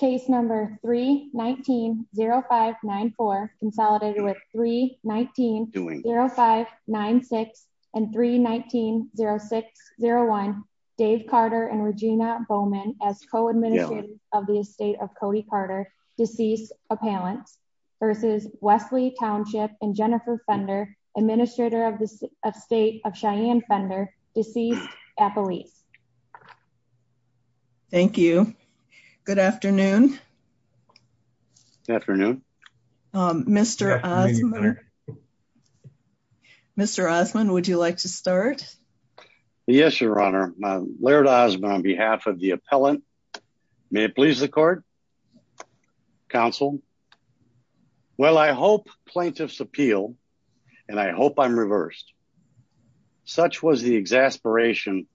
Case number 3190594 consolidated with 3190596 and 3190601 Dave Carter and Regina Bowman as co-administrators of the estate of Cody Carter, deceased appellants, versus Wesley Township and Jennifer Fender, administrator of the estate of Cheyenne Fender, deceased appellees. Thank you. Good afternoon. Good afternoon. Mr. Osmond. Mr. Osmond, would you like to start? Yes, Your Honor. Laird Osmond on behalf of the appellant. May it please the court. Counsel. Well, I hope plaintiffs appeal and I hope I'm reversed. Such was the exasperation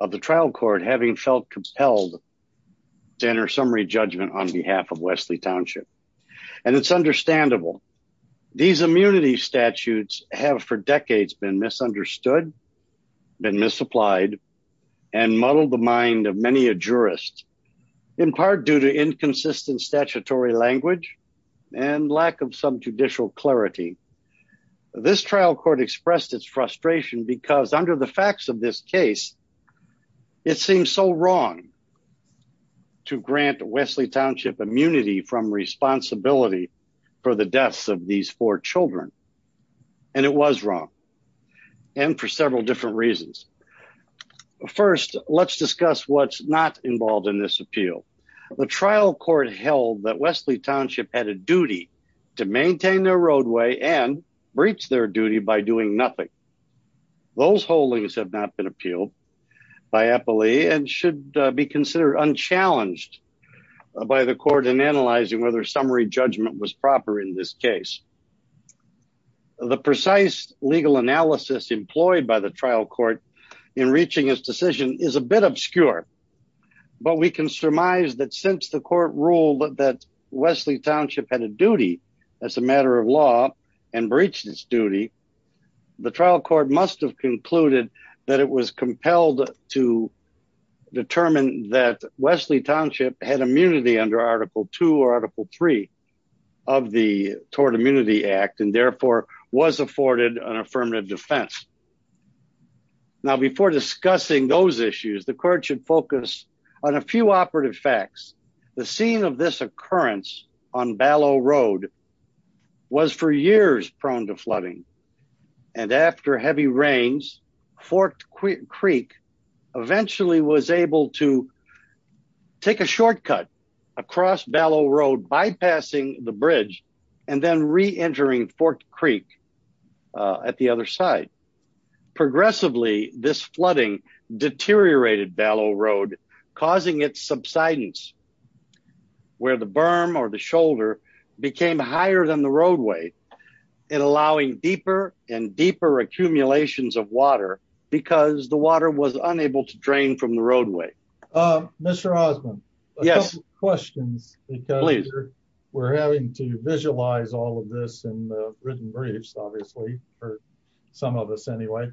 of the trial court having felt compelled to enter summary judgment on behalf of Wesley Township. And it's understandable. These immunity statutes have for decades been misunderstood, been misapplied, and muddled the mind of many a jurist in part due to inconsistent statutory language and lack of some judicial clarity. This trial court expressed its frustration because under the facts of this case, it seems so wrong to grant Wesley Township immunity from responsibility for the deaths of these four children. And it was wrong. And for several different reasons. First, let's discuss what's not involved in this appeal. The trial court held that Wesley Township had a duty to maintain their roadway and breach their duty by doing nothing. Those holdings have not been appealed by appellee and should be considered unchallenged by the court in analyzing whether summary judgment was proper in this case. The precise legal analysis employed by the trial court in reaching his decision is a bit obscure. But we can surmise that since the court ruled that Wesley Township had a duty as a matter of law and breached his duty, the trial court must have concluded that it was compelled to determine that Wesley Township had immunity under Article 2 or Article 3 of the Tort Immunity Act and therefore was afforded an affirmative defense. Now before discussing those issues, the court should focus on a few operative facts. The scene of this occurrence on Ballot Road was for years prone to flooding. And after heavy rains, Forked Creek eventually was able to take a shortcut across Ballot Road bypassing the bridge and then re-entering Forked Creek at the other side. Progressively, this flooding deteriorated Ballot Road causing its subsidence where the berm or the shoulder became higher than the roadway and allowing deeper and deeper accumulations of water because the water was unable to drain from the roadway. Mr. Osmond, a couple of questions because we're having to visualize all of this in the written briefs obviously for some of us anyway.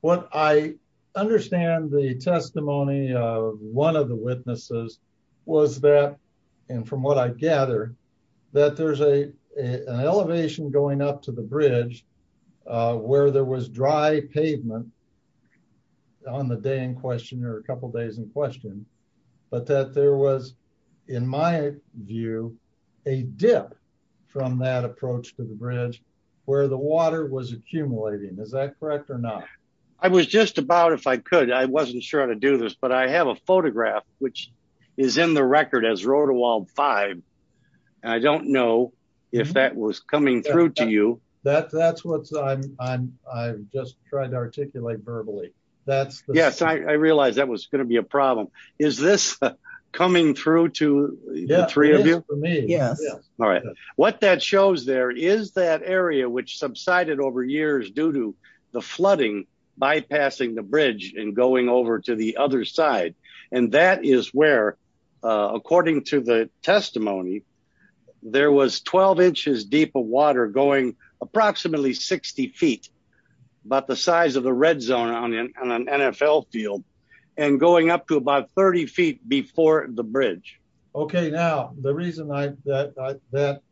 What I understand the testimony of one of the witnesses was that and from what I gather that there's a an elevation going up to the bridge where there was dry pavement on the day in question or a couple days in question but that there was in my view a dip from that approach to the bridge where the water was accumulating. Is that correct or not? I was just about if I could. I wasn't sure how to do this but I have a photograph which is in the record as Road to Wald 5. I don't know if that was coming through to you. That's what I just tried to articulate verbally. Yes, I realized that was going to be a problem. Is this coming through to the three of you? Yes. All right. What that shows there is that area which subsided over years due to the flooding bypassing the bridge and going over to the other side and that is where according to the testimony there was 12 inches deep of water going approximately 60 feet about the size of the red zone on an NFL field and going up to about 30 feet before the bridge. Okay. Now the reason that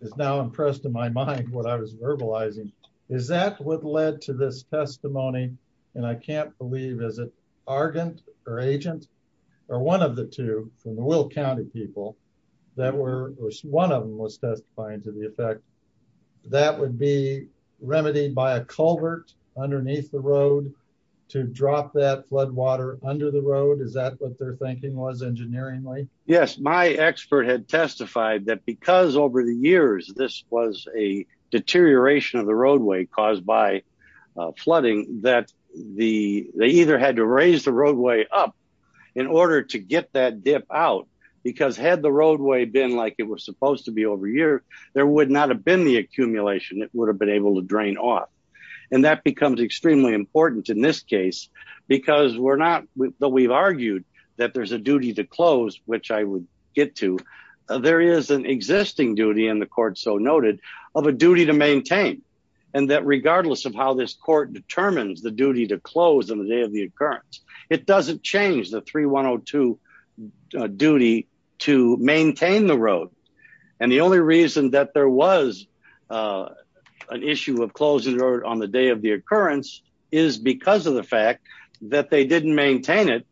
is now impressed in my mind what I was verbalizing is that what led to this testimony and I can't believe is it argon or agent or one of the two from the Will County people that were one of them was testifying to the effect that would be remedied by a culvert underneath the road to drop that flood water under the road. Is that what their thinking was engineeringly? Yes, my expert had testified that because over the years this was a deterioration of the roadway caused by flooding that they either had to raise the roadway up in order to get that out because had the roadway been like it was supposed to be over a year there would not have been the accumulation it would have been able to drain off and that becomes extremely important in this case because we're not that we've argued that there's a duty to close which I would get to there is an existing duty and the court so noted of a duty to maintain and that regardless of how this court determines the duty to close on the day of the occurrence it doesn't change the 3102 duty to maintain the road and the only reason that there was an issue of closing the road on the day of the occurrence is because of the fact that they didn't maintain it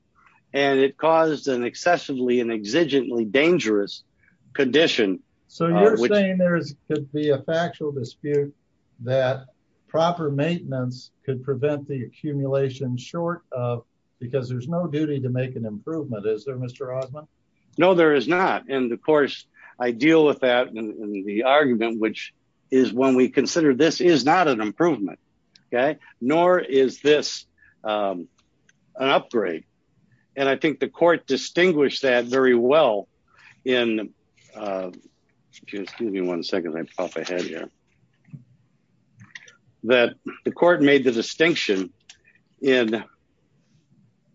and it caused an excessively and exigently dangerous condition. So you're saying there is could be a factual dispute that proper maintenance could prevent the accumulation short of because there's no duty to make an improvement is there Mr. Osmond. No there is not and of course I deal with that in the argument which is when we consider this is not an improvement okay nor is this an upgrade and I think the court distinguished that very well in uh excuse me one second I off ahead here that the court made the distinction in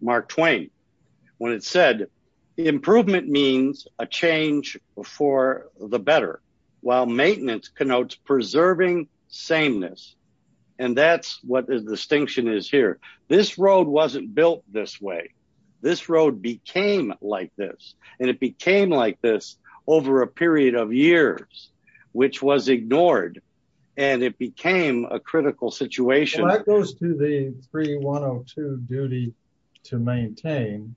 Mark Twain when it said improvement means a change for the better while maintenance connotes preserving sameness and that's what the distinction is here this road wasn't built this way this road became like this and it became like this over a period of years which was ignored and it became a critical situation that goes to the 3102 duty to maintain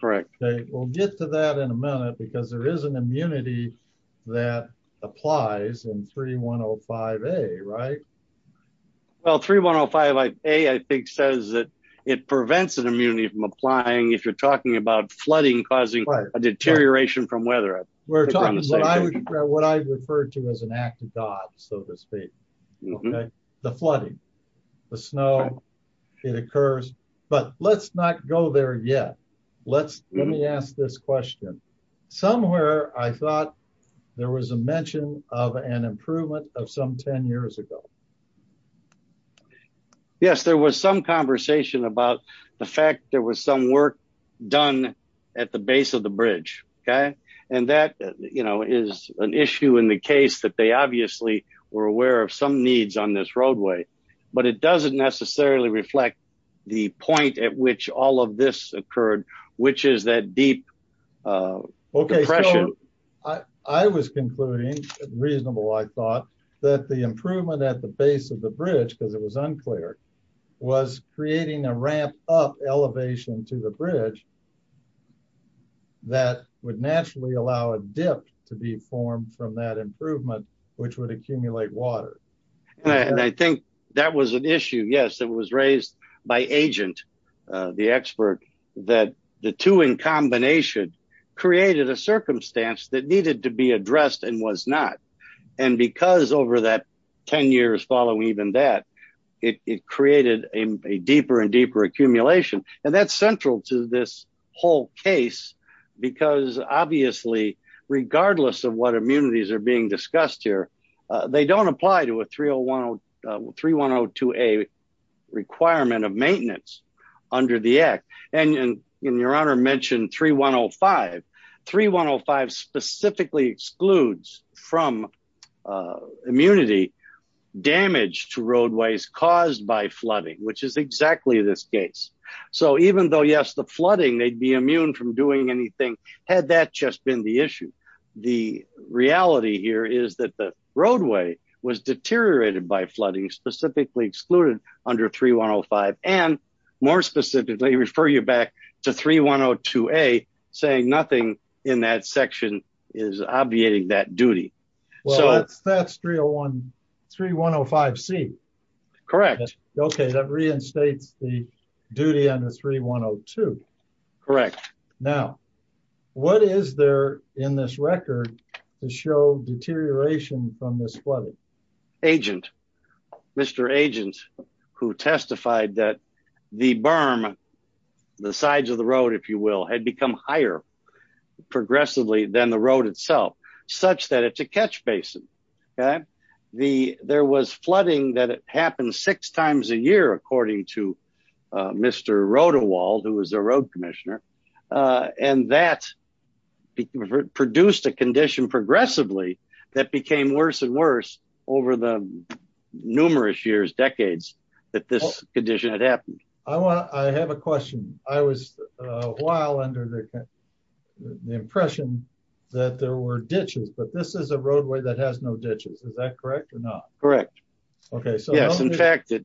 correct okay we'll get to that in a minute because there is an immunity that applies in 3105a right well 3105a I think says that it prevents an causing a deterioration from weather we're talking about what I refer to as an act of God so to speak okay the flooding the snow it occurs but let's not go there yet let's let me ask this question somewhere I thought there was a mention of an improvement of some 10 years ago okay yes there was some conversation about the fact there was some work done at the base of the bridge okay and that you know is an issue in the case that they obviously were aware of some needs on this roadway but it doesn't necessarily reflect the point at which all of this occurred which is that deep uh okay I was concluding reasonable I thought that the improvement at the base of the bridge because it was unclear was creating a ramp up elevation to the bridge that would naturally allow a dip to be formed from that improvement which would accumulate water and I think that was an issue yes it was raised by agent the expert that the two in combination created a circumstance that needed to be addressed and was not and because over that 10 years following even that it created a deeper and deeper accumulation and that's central to this whole case because obviously regardless of what immunities are being discussed here they don't apply to a 301 or 3102a requirement of maintenance under the act and your honor mentioned 3105. 3105 specifically excludes from immunity damage to roadways caused by flooding which is exactly this case so even though yes the flooding they'd be immune from doing anything had that just been the issue the reality here is that the roadway was deteriorated by flooding specifically excluded under 3105 and more specifically refer you back to 3102a saying nothing in that section is obviating that duty well that's 301 3105c correct okay that reinstates the duty under 3102 correct now what is there in this record to show deterioration from this flooding agent mr agent who testified that the berm the sides of the road if you will had become higher progressively than the road itself such that it's a catch basin okay the there was flooding that it happened six times a year according to mr rotawald who was a road uh and that produced a condition progressively that became worse and worse over the numerous years decades that this condition had happened i want i have a question i was while under the impression that there were ditches but this is a roadway that has no ditches is that correct or not correct okay so yes in fact it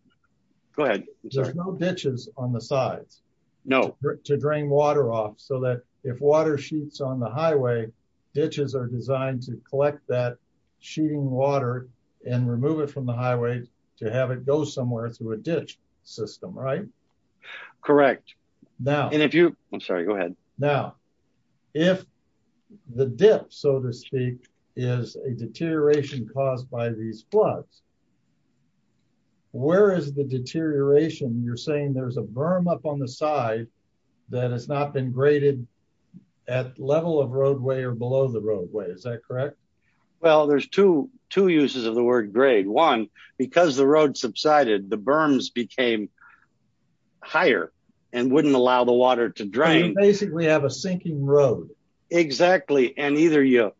go ahead there's no ditches on the sides no to drain water off so that if water sheets on the highway ditches are designed to collect that sheeting water and remove it from the highway to have it go somewhere through a ditch system right correct now and if you i'm sorry go ahead now if the dip so to speak is a deterioration caused by these floods where is the deterioration you're saying there's a berm up on the side that has not been graded at level of roadway or below the roadway is that correct well there's two two uses of the word grade one because the road subsided the berms became higher and wouldn't allow the water to drain basically have a sinking road exactly and either you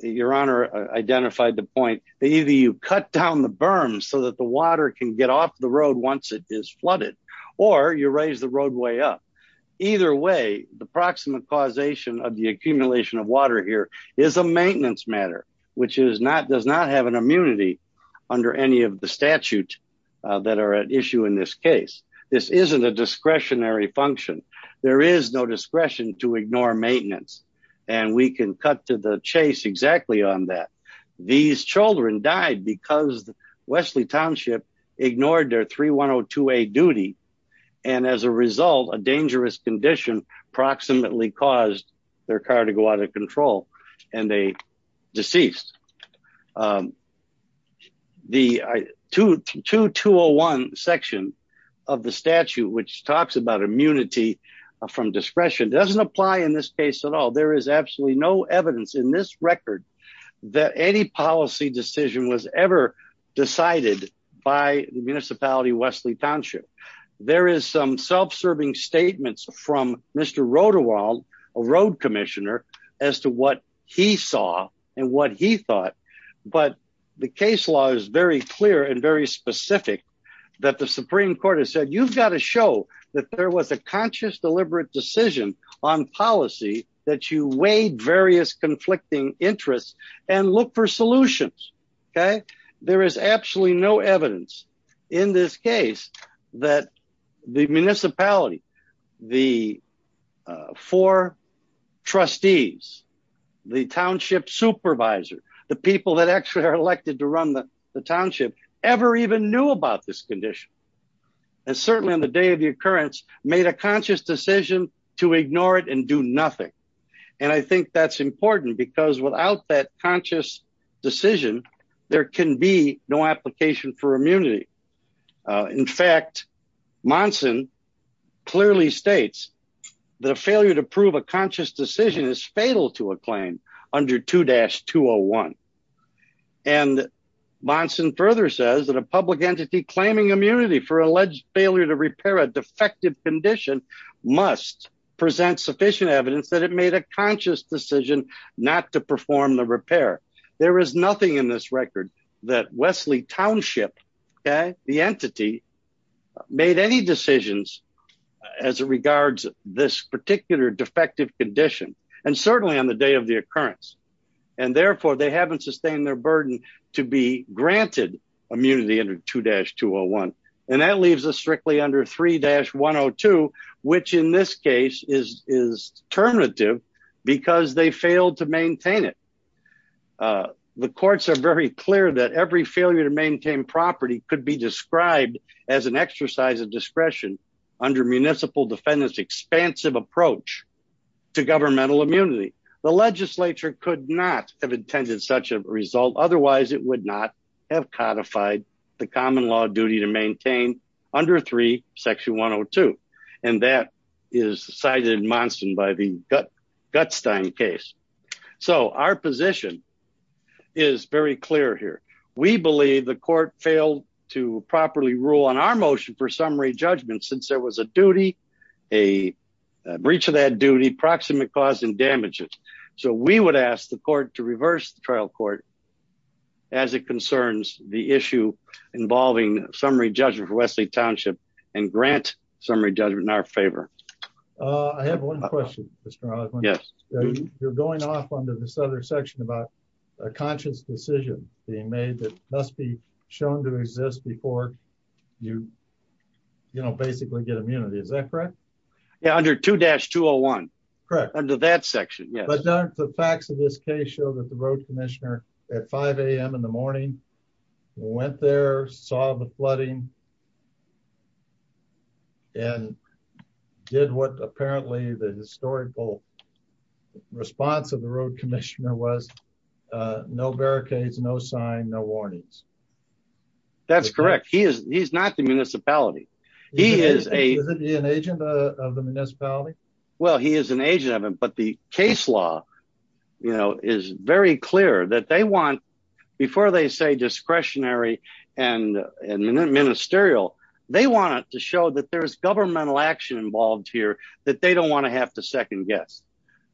your honor identified the point that either you cut down the berms so that the water can get off the road once it is flooded or you raise the roadway up either way the proximate causation of the accumulation of water here is a maintenance matter which is not does not have an immunity under any of the statute that are at issue in this case this isn't a discretionary function there is no discretion to ignore maintenance and we can cut to the chase exactly on that these children died because the wesley township ignored their 3102a duty and as a result a dangerous condition approximately caused their car to go out of control and they deceased um the 2-2-2-0-1 section of the statute which talks about immunity from discretion doesn't apply in this case at all there is absolutely no evidence in this record that any policy decision was ever decided by the municipality wesley township there is some self-serving statements from mr roderwald a road commissioner as to what he saw and what he thought but the case law is very clear and very specific that the supreme court has said you've got to show that there was a conscious deliberate decision on policy that you weighed various conflicting interests and look for solutions okay there is absolutely no evidence in this case that the municipality the four trustees the township supervisor the people that actually are elected to run the township ever even knew about this condition and certainly on the day of the occurrence made a conscious decision to ignore it and do nothing and i think that's important because without that conscious decision there can be no application for immunity uh in fact monson clearly states the failure to prove a conscious decision is fatal to a claim under 2-2-0-1 and monson further says that a public entity claiming immunity for alleged failure to repair a defective condition must present sufficient evidence that it made a conscious decision not to perform the repair there is nothing in this record that wesley township okay the entity made any decisions as it regards this particular defective condition and certainly on the day of the occurrence and therefore they haven't sustained their burden to be granted immunity under 2-2-0-1 and that leaves us strictly under 3-1-0-2 which in this case is is terminative because they failed to maintain it uh the courts are very clear that every failure to maintain property could be described as an exercise of discretion under municipal defendant's expansive approach to governmental immunity the legislature could not have intended such a result otherwise it would not have codified the common law duty to maintain under 3-1-0-2 and that is cited in monson by the gutstein case so our position is very clear here we believe the court failed to properly rule on our motion for summary judgment since there was a duty a breach of that duty proximate cause and damages so we would ask the court to reverse the trial court as it concerns the issue involving summary judgment for wesley township and grant summary judgment in our favor uh i have one question yes you're going off under this other section about a conscious decision being made that must be shown to exist before you you know basically get immunity is that correct yeah under 2-2-0-1 correct under that section yes but don't the facts of this case show that the road commissioner at 5 a.m in the morning went there saw the flooding and did what apparently the historical response of the road commissioner was no barricades no sign no warnings that's correct he is he's not the municipality he is a is it an agent of the municipality well he is an agent of him but the case law you know is very clear that they want before they say discretionary and and ministerial they want it to show that there's governmental action involved here that they don't want to have to second guess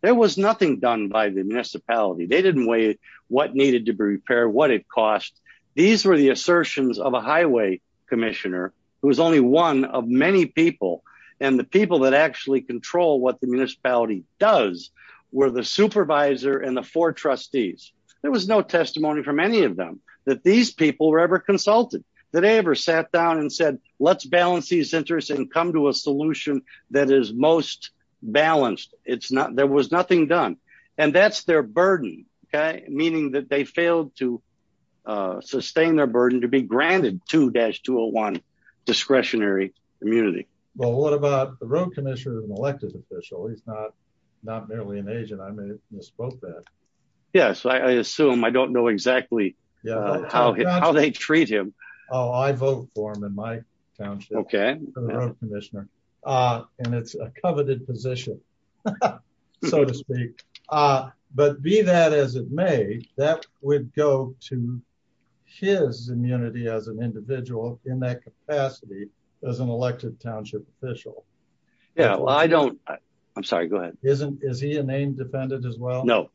there was nothing done by the municipality they didn't weigh what needed to be repaired what it cost these were the assertions of a highway commissioner who was only one of many people and the people that actually control what the municipality does were the supervisor and the trustees there was no testimony from any of them that these people were ever consulted that they ever sat down and said let's balance these interests and come to a solution that is most balanced it's not there was nothing done and that's their burden okay meaning that they failed to uh sustain their burden to be granted 2-2-0-1 discretionary immunity well what about the road elected official he's not not merely an agent i misspoke that yes i assume i don't know exactly yeah how they treat him oh i vote for him in my township okay for the road commissioner uh and it's a coveted position so to speak uh but be that as it may that would go to his immunity as an individual in that capacity as an elected township official yeah well i don't i'm sorry go ahead isn't is he a named defendant as well no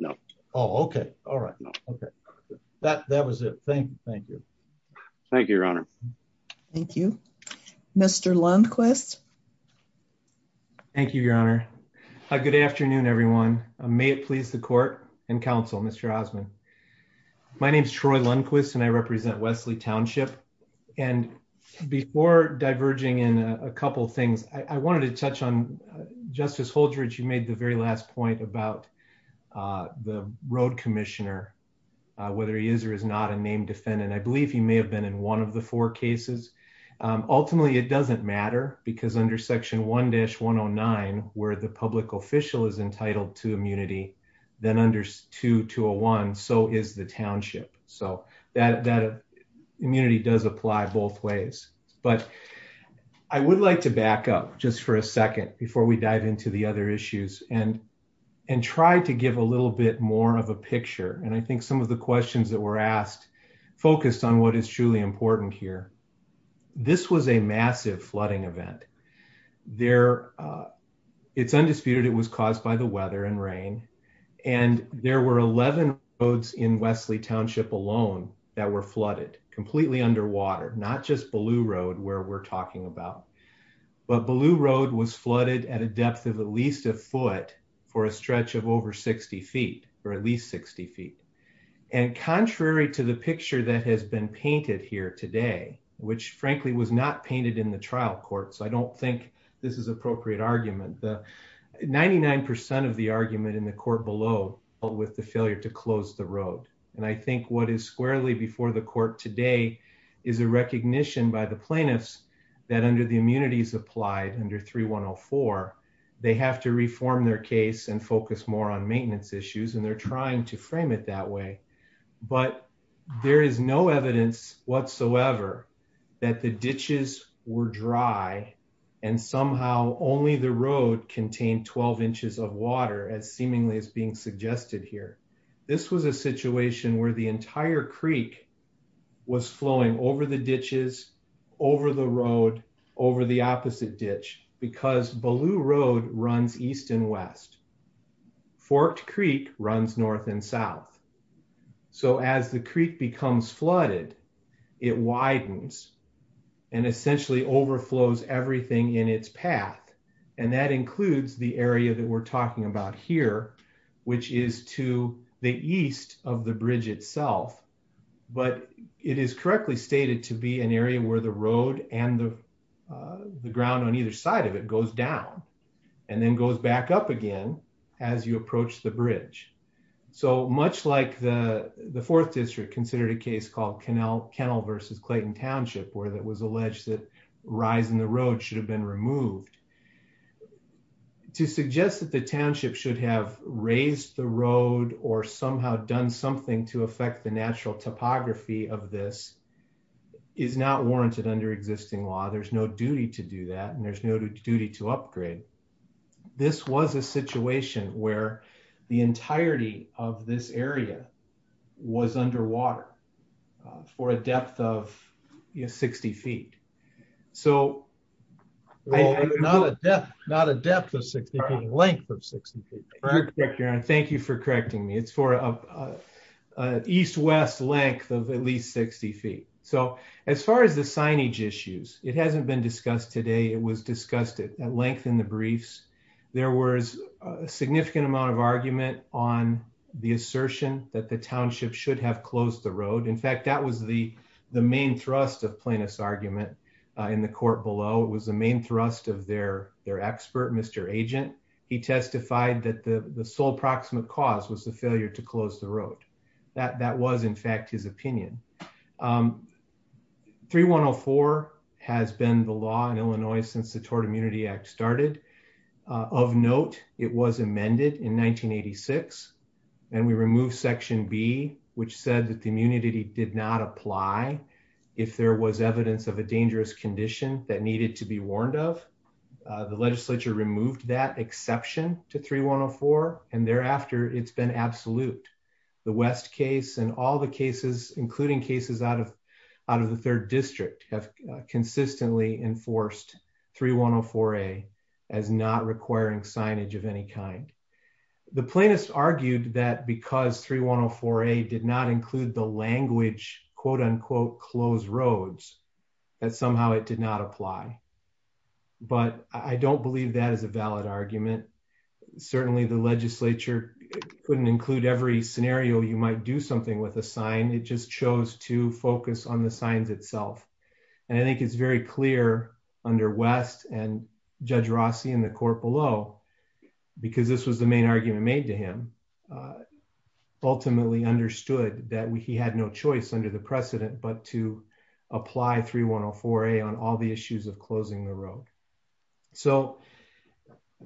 no oh okay all right okay that that was it thank you thank you thank you your honor thank you mr lundquist thank you your honor hi good afternoon everyone may it please the court and counsel mr osmond my name is troy lundquist and i represent wesley township and before diverging in a couple things i wanted to touch on justice holdridge you made the very last point about uh the road commissioner whether he is or is not a named defendant i believe he may have been in one of the four cases ultimately it doesn't matter because under section 1-109 where the public official is entitled to immunity then under 2201 so is the township so that that immunity does apply both ways but i would like to back up just for a second before we dive into the other issues and and try to give a little bit more of a picture and i think some of the questions that were asked focused on what is truly important here this was a massive flooding event there uh it's undisputed it was caused by the weather and rain and there were 11 roads in wesley township alone that were flooded completely underwater not just baloo road where we're talking about but baloo road was flooded at a depth of at least a foot for a stretch of over 60 feet or at least 60 feet and contrary to the picture that has been painted here today which frankly was not painted in the trial court so i don't think this is appropriate argument the 99 of the argument in the court below with the failure to close the road and i think what is squarely before the court today is a recognition by the plaintiffs that under the immunities applied under 3104 they have to but there is no evidence whatsoever that the ditches were dry and somehow only the road contained 12 inches of water as seemingly as being suggested here this was a situation where the entire creek was flowing over the ditches over the road over the opposite ditch because baloo road runs east and west forked creek runs north and south so as the creek becomes flooded it widens and essentially overflows everything in its path and that includes the area that we're talking about here which is to the east of the bridge itself but it is correctly stated to be an area where the road and the ground on either side of it goes down and then goes back up again as you approach the bridge so much like the the fourth district considered a case called kennel versus clayton township where that was alleged that rise in the road should have been removed to suggest that the township should have raised the road or somehow done something to warrant it under existing law there's no duty to do that and there's no duty to upgrade this was a situation where the entirety of this area was underwater for a depth of 60 feet so not a depth not a depth of 60 feet length of 60 feet thank you for correcting me for a east west length of at least 60 feet so as far as the signage issues it hasn't been discussed today it was discussed at length in the briefs there was a significant amount of argument on the assertion that the township should have closed the road in fact that was the the main thrust of plaintiff's argument in the court below was the main thrust of their their to close the road that that was in fact his opinion um 3104 has been the law in illinois since the tort immunity act started of note it was amended in 1986 and we removed section b which said that the immunity did not apply if there was evidence of a dangerous condition that needed to be warned of the legislature removed that exception to 3104 and thereafter it's been absolute the west case and all the cases including cases out of out of the third district have consistently enforced 3104a as not requiring signage of any kind the plaintiffs argued that because 3104a did not include the language quote unquote closed roads that somehow it did not apply but i don't believe that is a valid argument certainly the legislature couldn't include every scenario you might do something with a sign it just chose to focus on the signs itself and i think it's very clear under west and judge rossi in the court below because this was the main argument made to him ultimately understood that he had no choice under the precedent but to apply 3104a on all the issues of closing the road so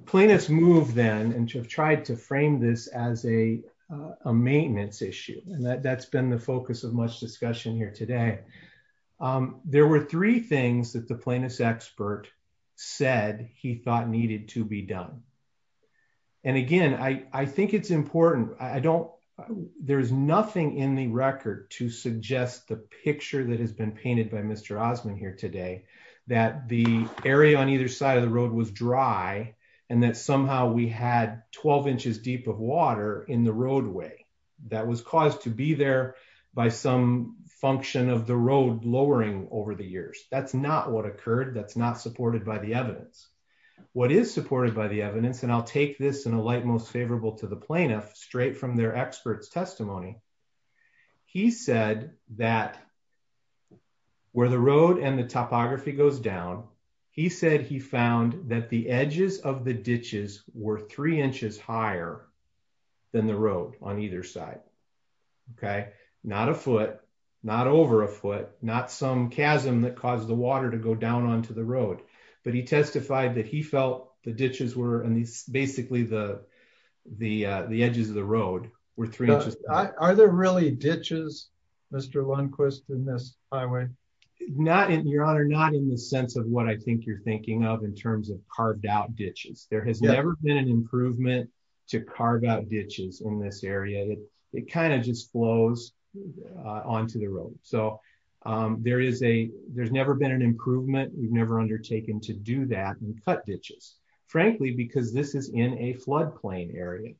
plaintiffs moved then and to have tried to frame this as a a maintenance issue and that that's been the focus of much discussion here today there were three things that the plaintiff's expert said he thought needed to be done and again i i think it's important i don't there's nothing in the record to suggest the picture that has painted by mr osmond here today that the area on either side of the road was dry and that somehow we had 12 inches deep of water in the roadway that was caused to be there by some function of the road lowering over the years that's not what occurred that's not supported by the evidence what is supported by the evidence and i'll take this in a light most favorable to the plaintiff straight from their experts testimony he said that where the road and the topography goes down he said he found that the edges of the ditches were three inches higher than the road on either side okay not a foot not over a foot not some chasm that caused the water to go down onto the road we're three inches are there really ditches mr lundquist in this highway not in your honor not in the sense of what i think you're thinking of in terms of carved out ditches there has never been an improvement to carve out ditches in this area it kind of just flows onto the road so um there is a there's never been an improvement we've never undertaken to do that and cut ditches frankly because this is in a floodplain area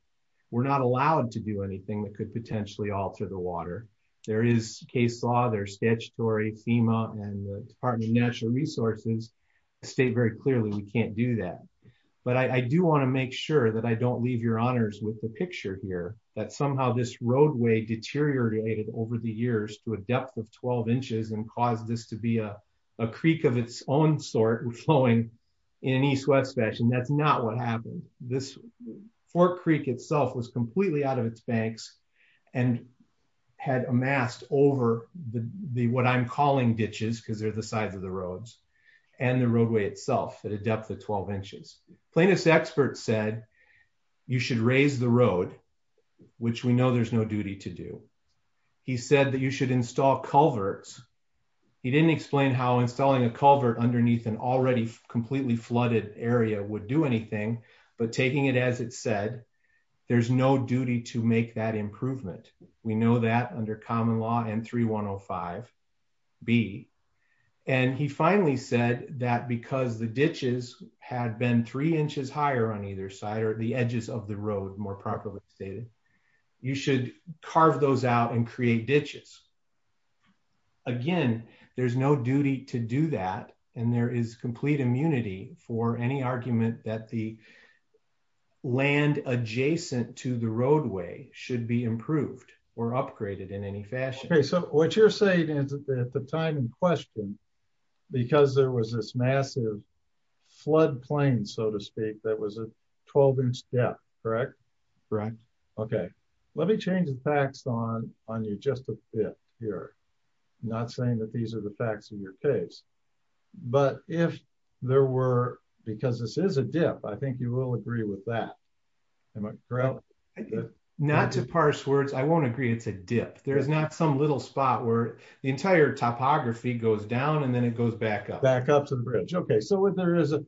we're not allowed to do anything that could potentially alter the water there is case law there's statutory fema and the department of natural resources state very clearly we can't do that but i i do want to make sure that i don't leave your honors with the picture here that somehow this roadway deteriorated over the years to a depth of 12 inches and caused this to be a a creek of its own sort flowing in an east-west that's not what happened this fork creek itself was completely out of its banks and had amassed over the what i'm calling ditches because they're the sides of the roads and the roadway itself at a depth of 12 inches plaintiff's expert said you should raise the road which we know there's no duty to do he said that you should install culverts he didn't explain how installing a area would do anything but taking it as it said there's no duty to make that improvement we know that under common law and 3 105 b and he finally said that because the ditches had been three inches higher on either side or the edges of the road more properly stated you should carve those out and create ditches again there's no duty to do that and there is immunity for any argument that the land adjacent to the roadway should be improved or upgraded in any fashion okay so what you're saying is at the time in question because there was this massive flood plain so to speak that was a 12 inch depth correct correct okay let me change facts on on you just a bit here not saying that these are the facts of your case but if there were because this is a dip i think you will agree with that am i correct not to parse words i won't agree it's a dip there's not some little spot where the entire topography goes down and then it goes back up back up to the bridge okay so when there is a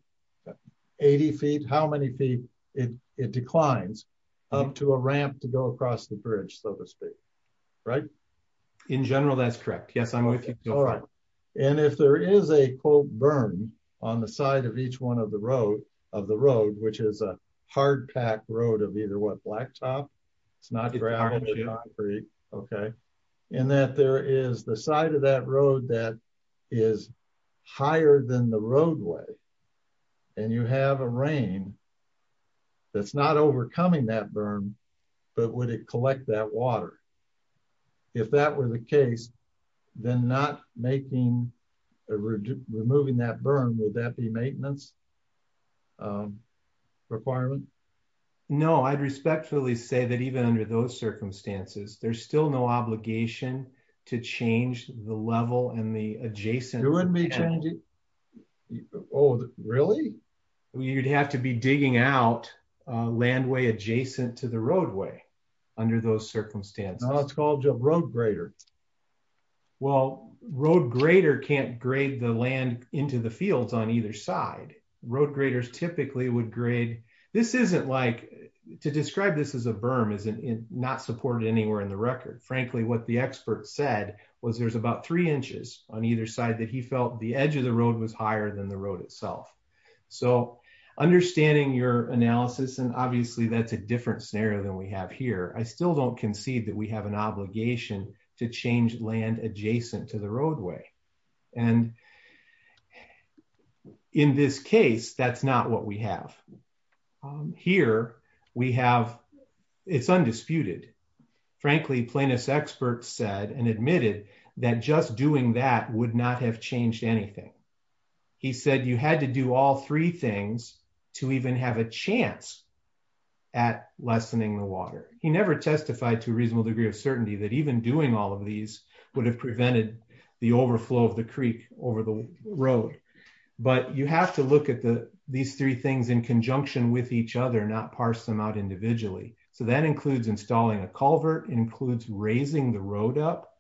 80 feet how many feet it it declines up to a ramp to go across the bridge so to speak right in general that's correct yes i'm with you all right and if there is a quote burn on the side of each one of the road of the road which is a hard pack road of either what blacktop it's not very concrete okay and that there is the side of that road that is higher than the roadway and you have a rain that's not overcoming that burn would it collect that water if that were the case then not making removing that burn would that be maintenance requirement no i'd respectfully say that even under those circumstances there's still no obligation to change the level and the adjacent it wouldn't be changing oh really you'd have to be digging out a landway adjacent to the roadway under those circumstances it's called a road grader well road grader can't grade the land into the fields on either side road graders typically would grade this isn't like to describe this as a berm is not supported anywhere in the record frankly what the expert said was there's about three inches on either side that he felt the edge of the road was higher than the road itself so understanding your analysis and obviously that's a different scenario than we have here i still don't concede that we have an obligation to change land adjacent to the roadway and in this case that's not what we have here we have it's undisputed frankly plaintiffs experts said and admitted that just doing that would not have changed anything he said you had to do all three things to even have a chance at lessening the water he never testified to a reasonable degree of certainty that even doing all of these would have prevented the overflow of the creek over the road but you have to look at the these three things in conjunction with each other not parse them out individually so that includes installing a culvert includes raising the road up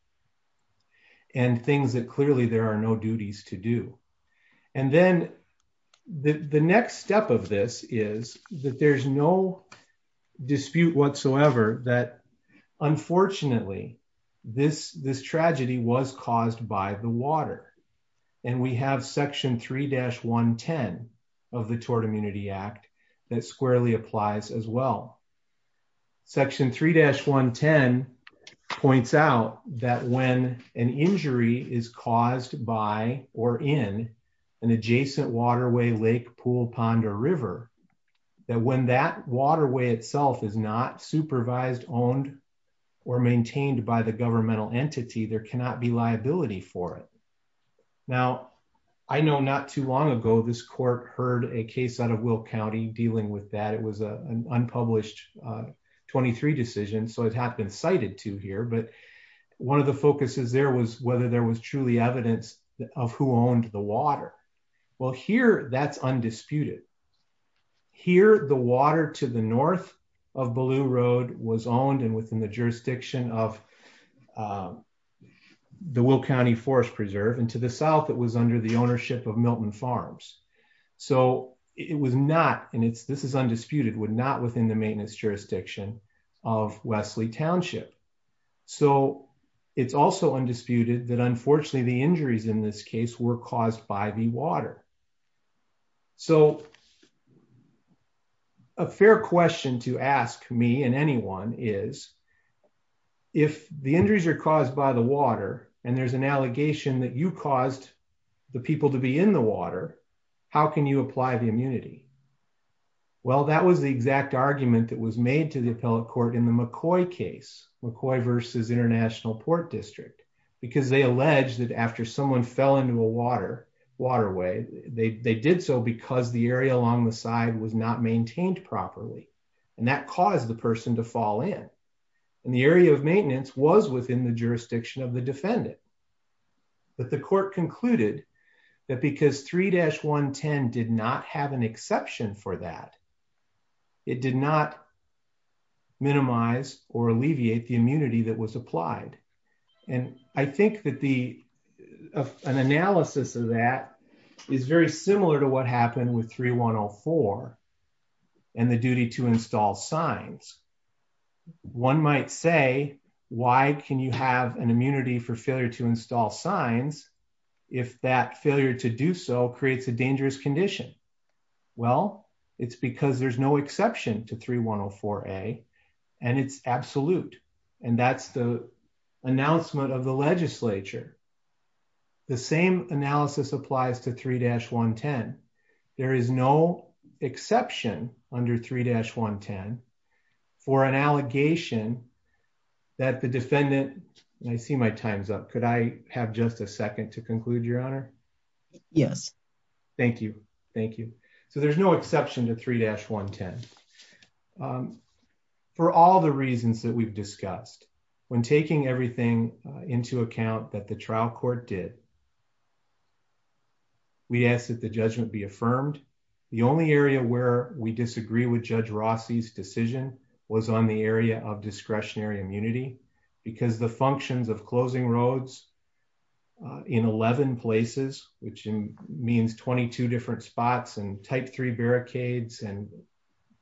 and things that clearly there are no duties to do and then the the next step of this is that there's no dispute whatsoever that unfortunately this this tragedy was caused by the water and we have section 3-110 of the tort immunity act that squarely applies as well section 3-110 points out that when an injury is caused by or in an adjacent waterway lake pool pond or river that when that waterway itself is not supervised owned or maintained by the governmental entity there cannot be liability for it now i know not too long ago this court heard a case out of will county dealing with that it was a unpublished 23 decision so it had been cited to here but one of the focuses there was whether there was truly evidence of who owned the water well here that's undisputed here the water to the north of balloon road was owned and within the jurisdiction of the will county forest preserve and to the south it was under the ownership of milton farms so it was not and it's this is undisputed would not within the maintenance jurisdiction of wesley township so it's also undisputed that unfortunately the injuries in this case were caused by the water so a fair question to ask me and anyone is if the injuries are caused by the water and there's an allegation that you caused the people to be in the water how can you apply the immunity well that was the exact argument that was made to the appellate court in the mccoy case mccoy versus international port district because they alleged that after someone fell into a water waterway they they did so because the area along the side was not maintained properly and that caused the person to fall in and the area of maintenance was within the jurisdiction of the defendant but the court concluded that because 3-110 did not have an exception for that it did not minimize or alleviate the immunity that was applied and i think that the an analysis of that is very similar to what happened with 3-104 and the duty to install signs one might say why can you have an immunity for failure to install signs if that failure to do so creates a dangerous condition well it's because there's no exception to 3104a and it's absolute and that's the announcement of the legislature the same analysis applies to 3-110 there is no exception under 3-110 for an allegation that the defendant and i see my time's up could i have just a second to conclude your honor yes thank you thank you so there's no exception to 3-110 for all the reasons that we've discussed when taking everything into account that the trial court did we asked that the judgment be affirmed the only area where we disagree with judge rossi's decision was on the area of discretionary immunity because the functions of closing roads in 11 places which means 22 different spots and type 3 barricades and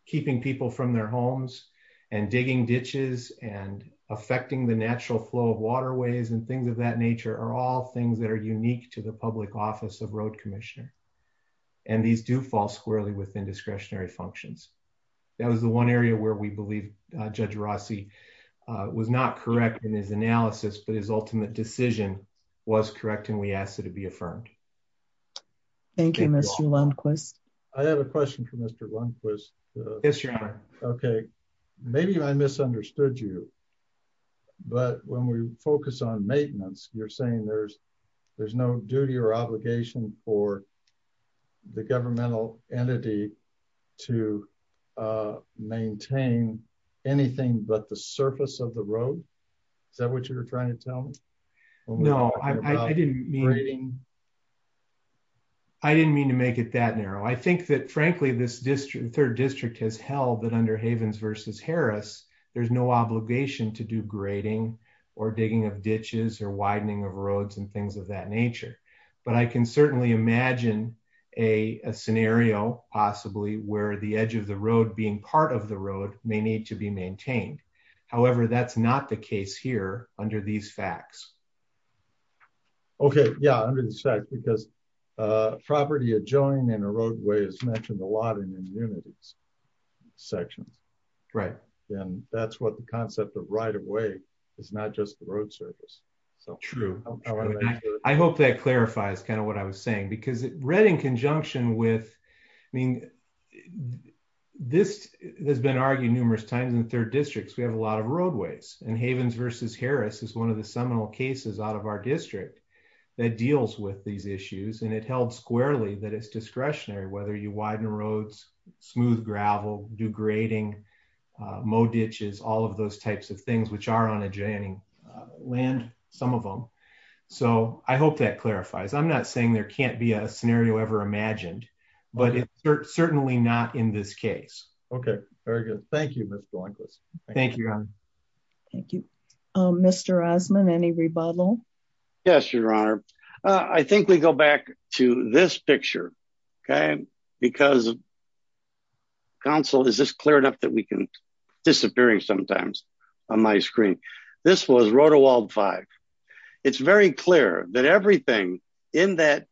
keeping people from their homes and digging ditches and affecting the natural flow of waterways and things of that nature are all things that are unique to the public office of road commissioner and these do fall squarely within discretionary functions that was the one area where we believe judge rossi was not correct in his analysis but his ultimate decision was correct and we asked it to be affirmed thank you mr lundquist i have a question for mr lundquist yes your honor okay maybe i misunderstood you but when we focus on maintenance you're saying there's there's no duty or obligation for the governmental entity to maintain anything but the surface of the road is that what you're trying to tell me no i didn't mean reading i didn't mean to make it that narrow i think that frankly this district third district has held that under havens versus harris there's no obligation to do grading or digging of ditches or widening of roads and things of that nature but i can certainly imagine a a scenario possibly where the edge of the road being part of the road may need to be maintained however that's not the case here under these facts okay yeah under the fact because uh property adjoining in a roadway is mentioned a lot in immunities sections right and that's what the concept of right of way is not just the road surface so true i hope that clarifies kind of what i was saying because read in conjunction with i mean this has been argued numerous times in third districts we have a lot of roadways and havens versus harris is one of the seminal cases out of our district that deals with these issues and it held squarely that it's discretionary whether you widen roads smooth gravel do grading uh mow ditches all of those types of things which are on a jenny land some of them so i hope that clarifies i'm not saying there can't be a scenario ever imagined but it's certainly not in this case okay very good thank you thank you thank you thank you um mr asman any rebuttal yes your honor i think we go back to this picture okay because council is this clear enough that we can disappearing sometimes on my screen this was rotowald five it's very clear that everything in that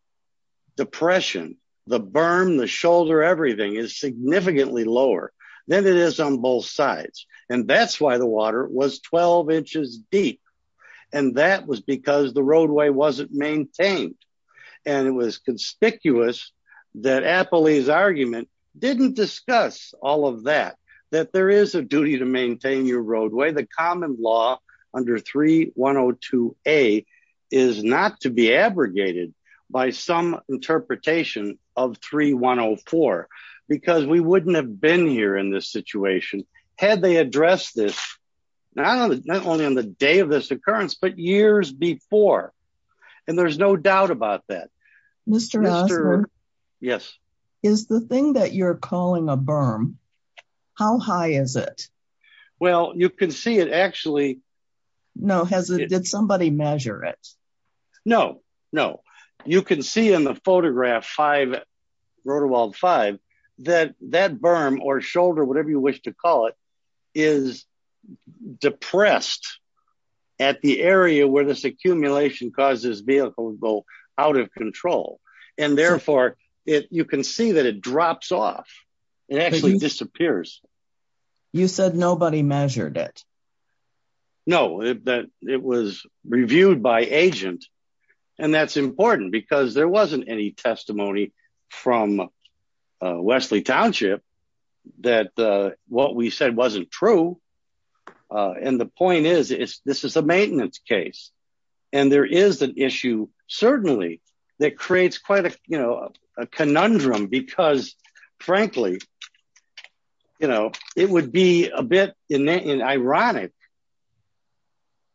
depression the berm the shoulder everything is significantly lower than it is on both sides and that's why the water was 12 inches deep and that was because the roadway wasn't maintained and it was conspicuous that appley's argument didn't discuss all of that that there is a duty to maintain your roadway the common law under 3102a is not to be abrogated by some interpretation of 3104 because we wouldn't have been here in this situation had they addressed this now not only on the day of this occurrence but years before and there's no doubt about that mr yes is the thing that you're no has it did somebody measure it no no you can see in the photograph five rotowald five that that berm or shoulder whatever you wish to call it is depressed at the area where this accumulation causes vehicles go out of control and therefore it can see that it drops off it actually disappears you said nobody measured it no that it was reviewed by agent and that's important because there wasn't any testimony from wesley township that uh what we said wasn't true and the point is it's this is a maintenance case and there is an issue certainly that creates quite a you know a conundrum because frankly you know it would be a bit in an ironic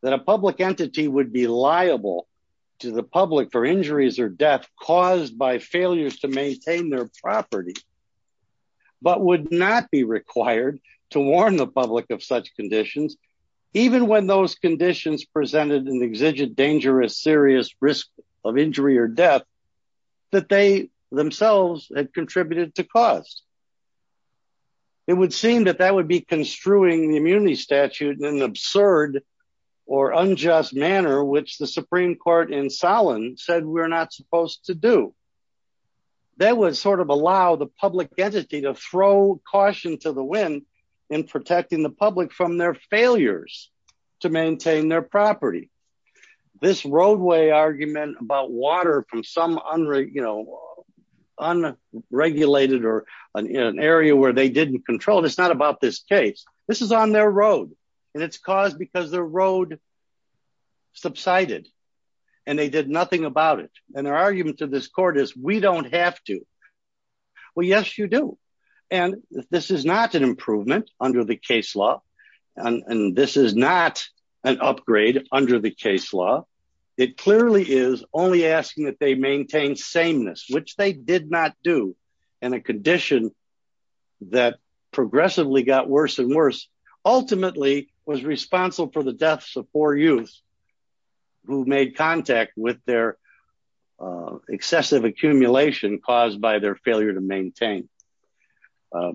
that a public entity would be liable to the public for injuries or death caused by failures to maintain their property but would not be required to warn the public of such conditions even when those conditions presented an exigent dangerous serious risk of injury or death that they themselves had contributed to cause it would seem that that would be construing the immunity statute in an absurd or unjust manner which the supreme court in solon said we're not supposed to do that would sort of allow the public entity to throw caution to the public from their failures to maintain their property this roadway argument about water from some unre you know unregulated or an area where they didn't control it's not about this case this is on their road and it's caused because their road subsided and they did nothing about it and their argument to this court is we don't have to well yes you do and this is not an improvement under the case law and this is not an upgrade under the case law it clearly is only asking that they maintain sameness which they did not do in a condition that progressively got worse and worse ultimately was responsible for the deaths of four youths who made contact with their excessive accumulation caused by their failure to maintain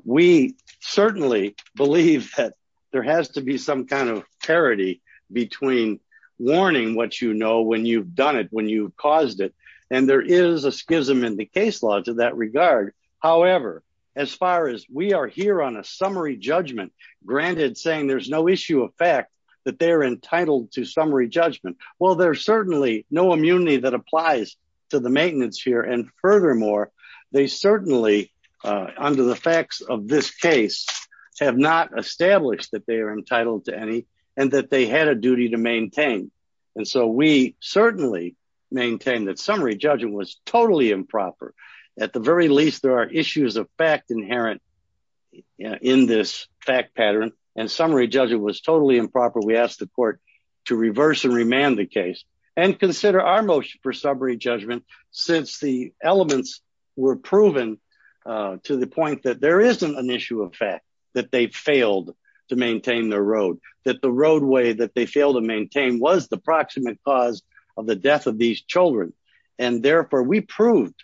we certainly believe that there has to be some kind of parity between warning what you know when you've done it when you've caused it and there is a schism in the case law to that regard however as far as we are here on a summary judgment granted saying there's no issue of fact that they are entitled to summary judgment well there's certainly no immunity that applies to the maintenance here and furthermore they certainly under the facts of this case have not established that they are entitled to any and that they had a duty to maintain and so we certainly maintain that summary judgment was totally improper at the very least there are issues of fact inherent in this fact pattern and summary judgment was totally improper we asked the court to reverse and remand the case and consider our motion for judgment since the elements were proven to the point that there isn't an issue of fact that they failed to maintain the road that the roadway that they fail to maintain was the proximate cause of the death of these children and therefore we proved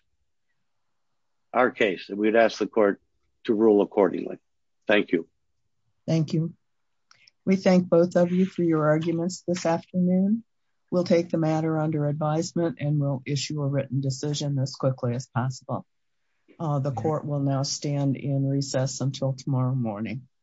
our case and we'd ask the court to rule accordingly thank you thank you we thank both of you for your arguments this afternoon we'll take the matter under advisement and we'll issue a written decision as quickly as possible the court will now stand in recess until tomorrow morning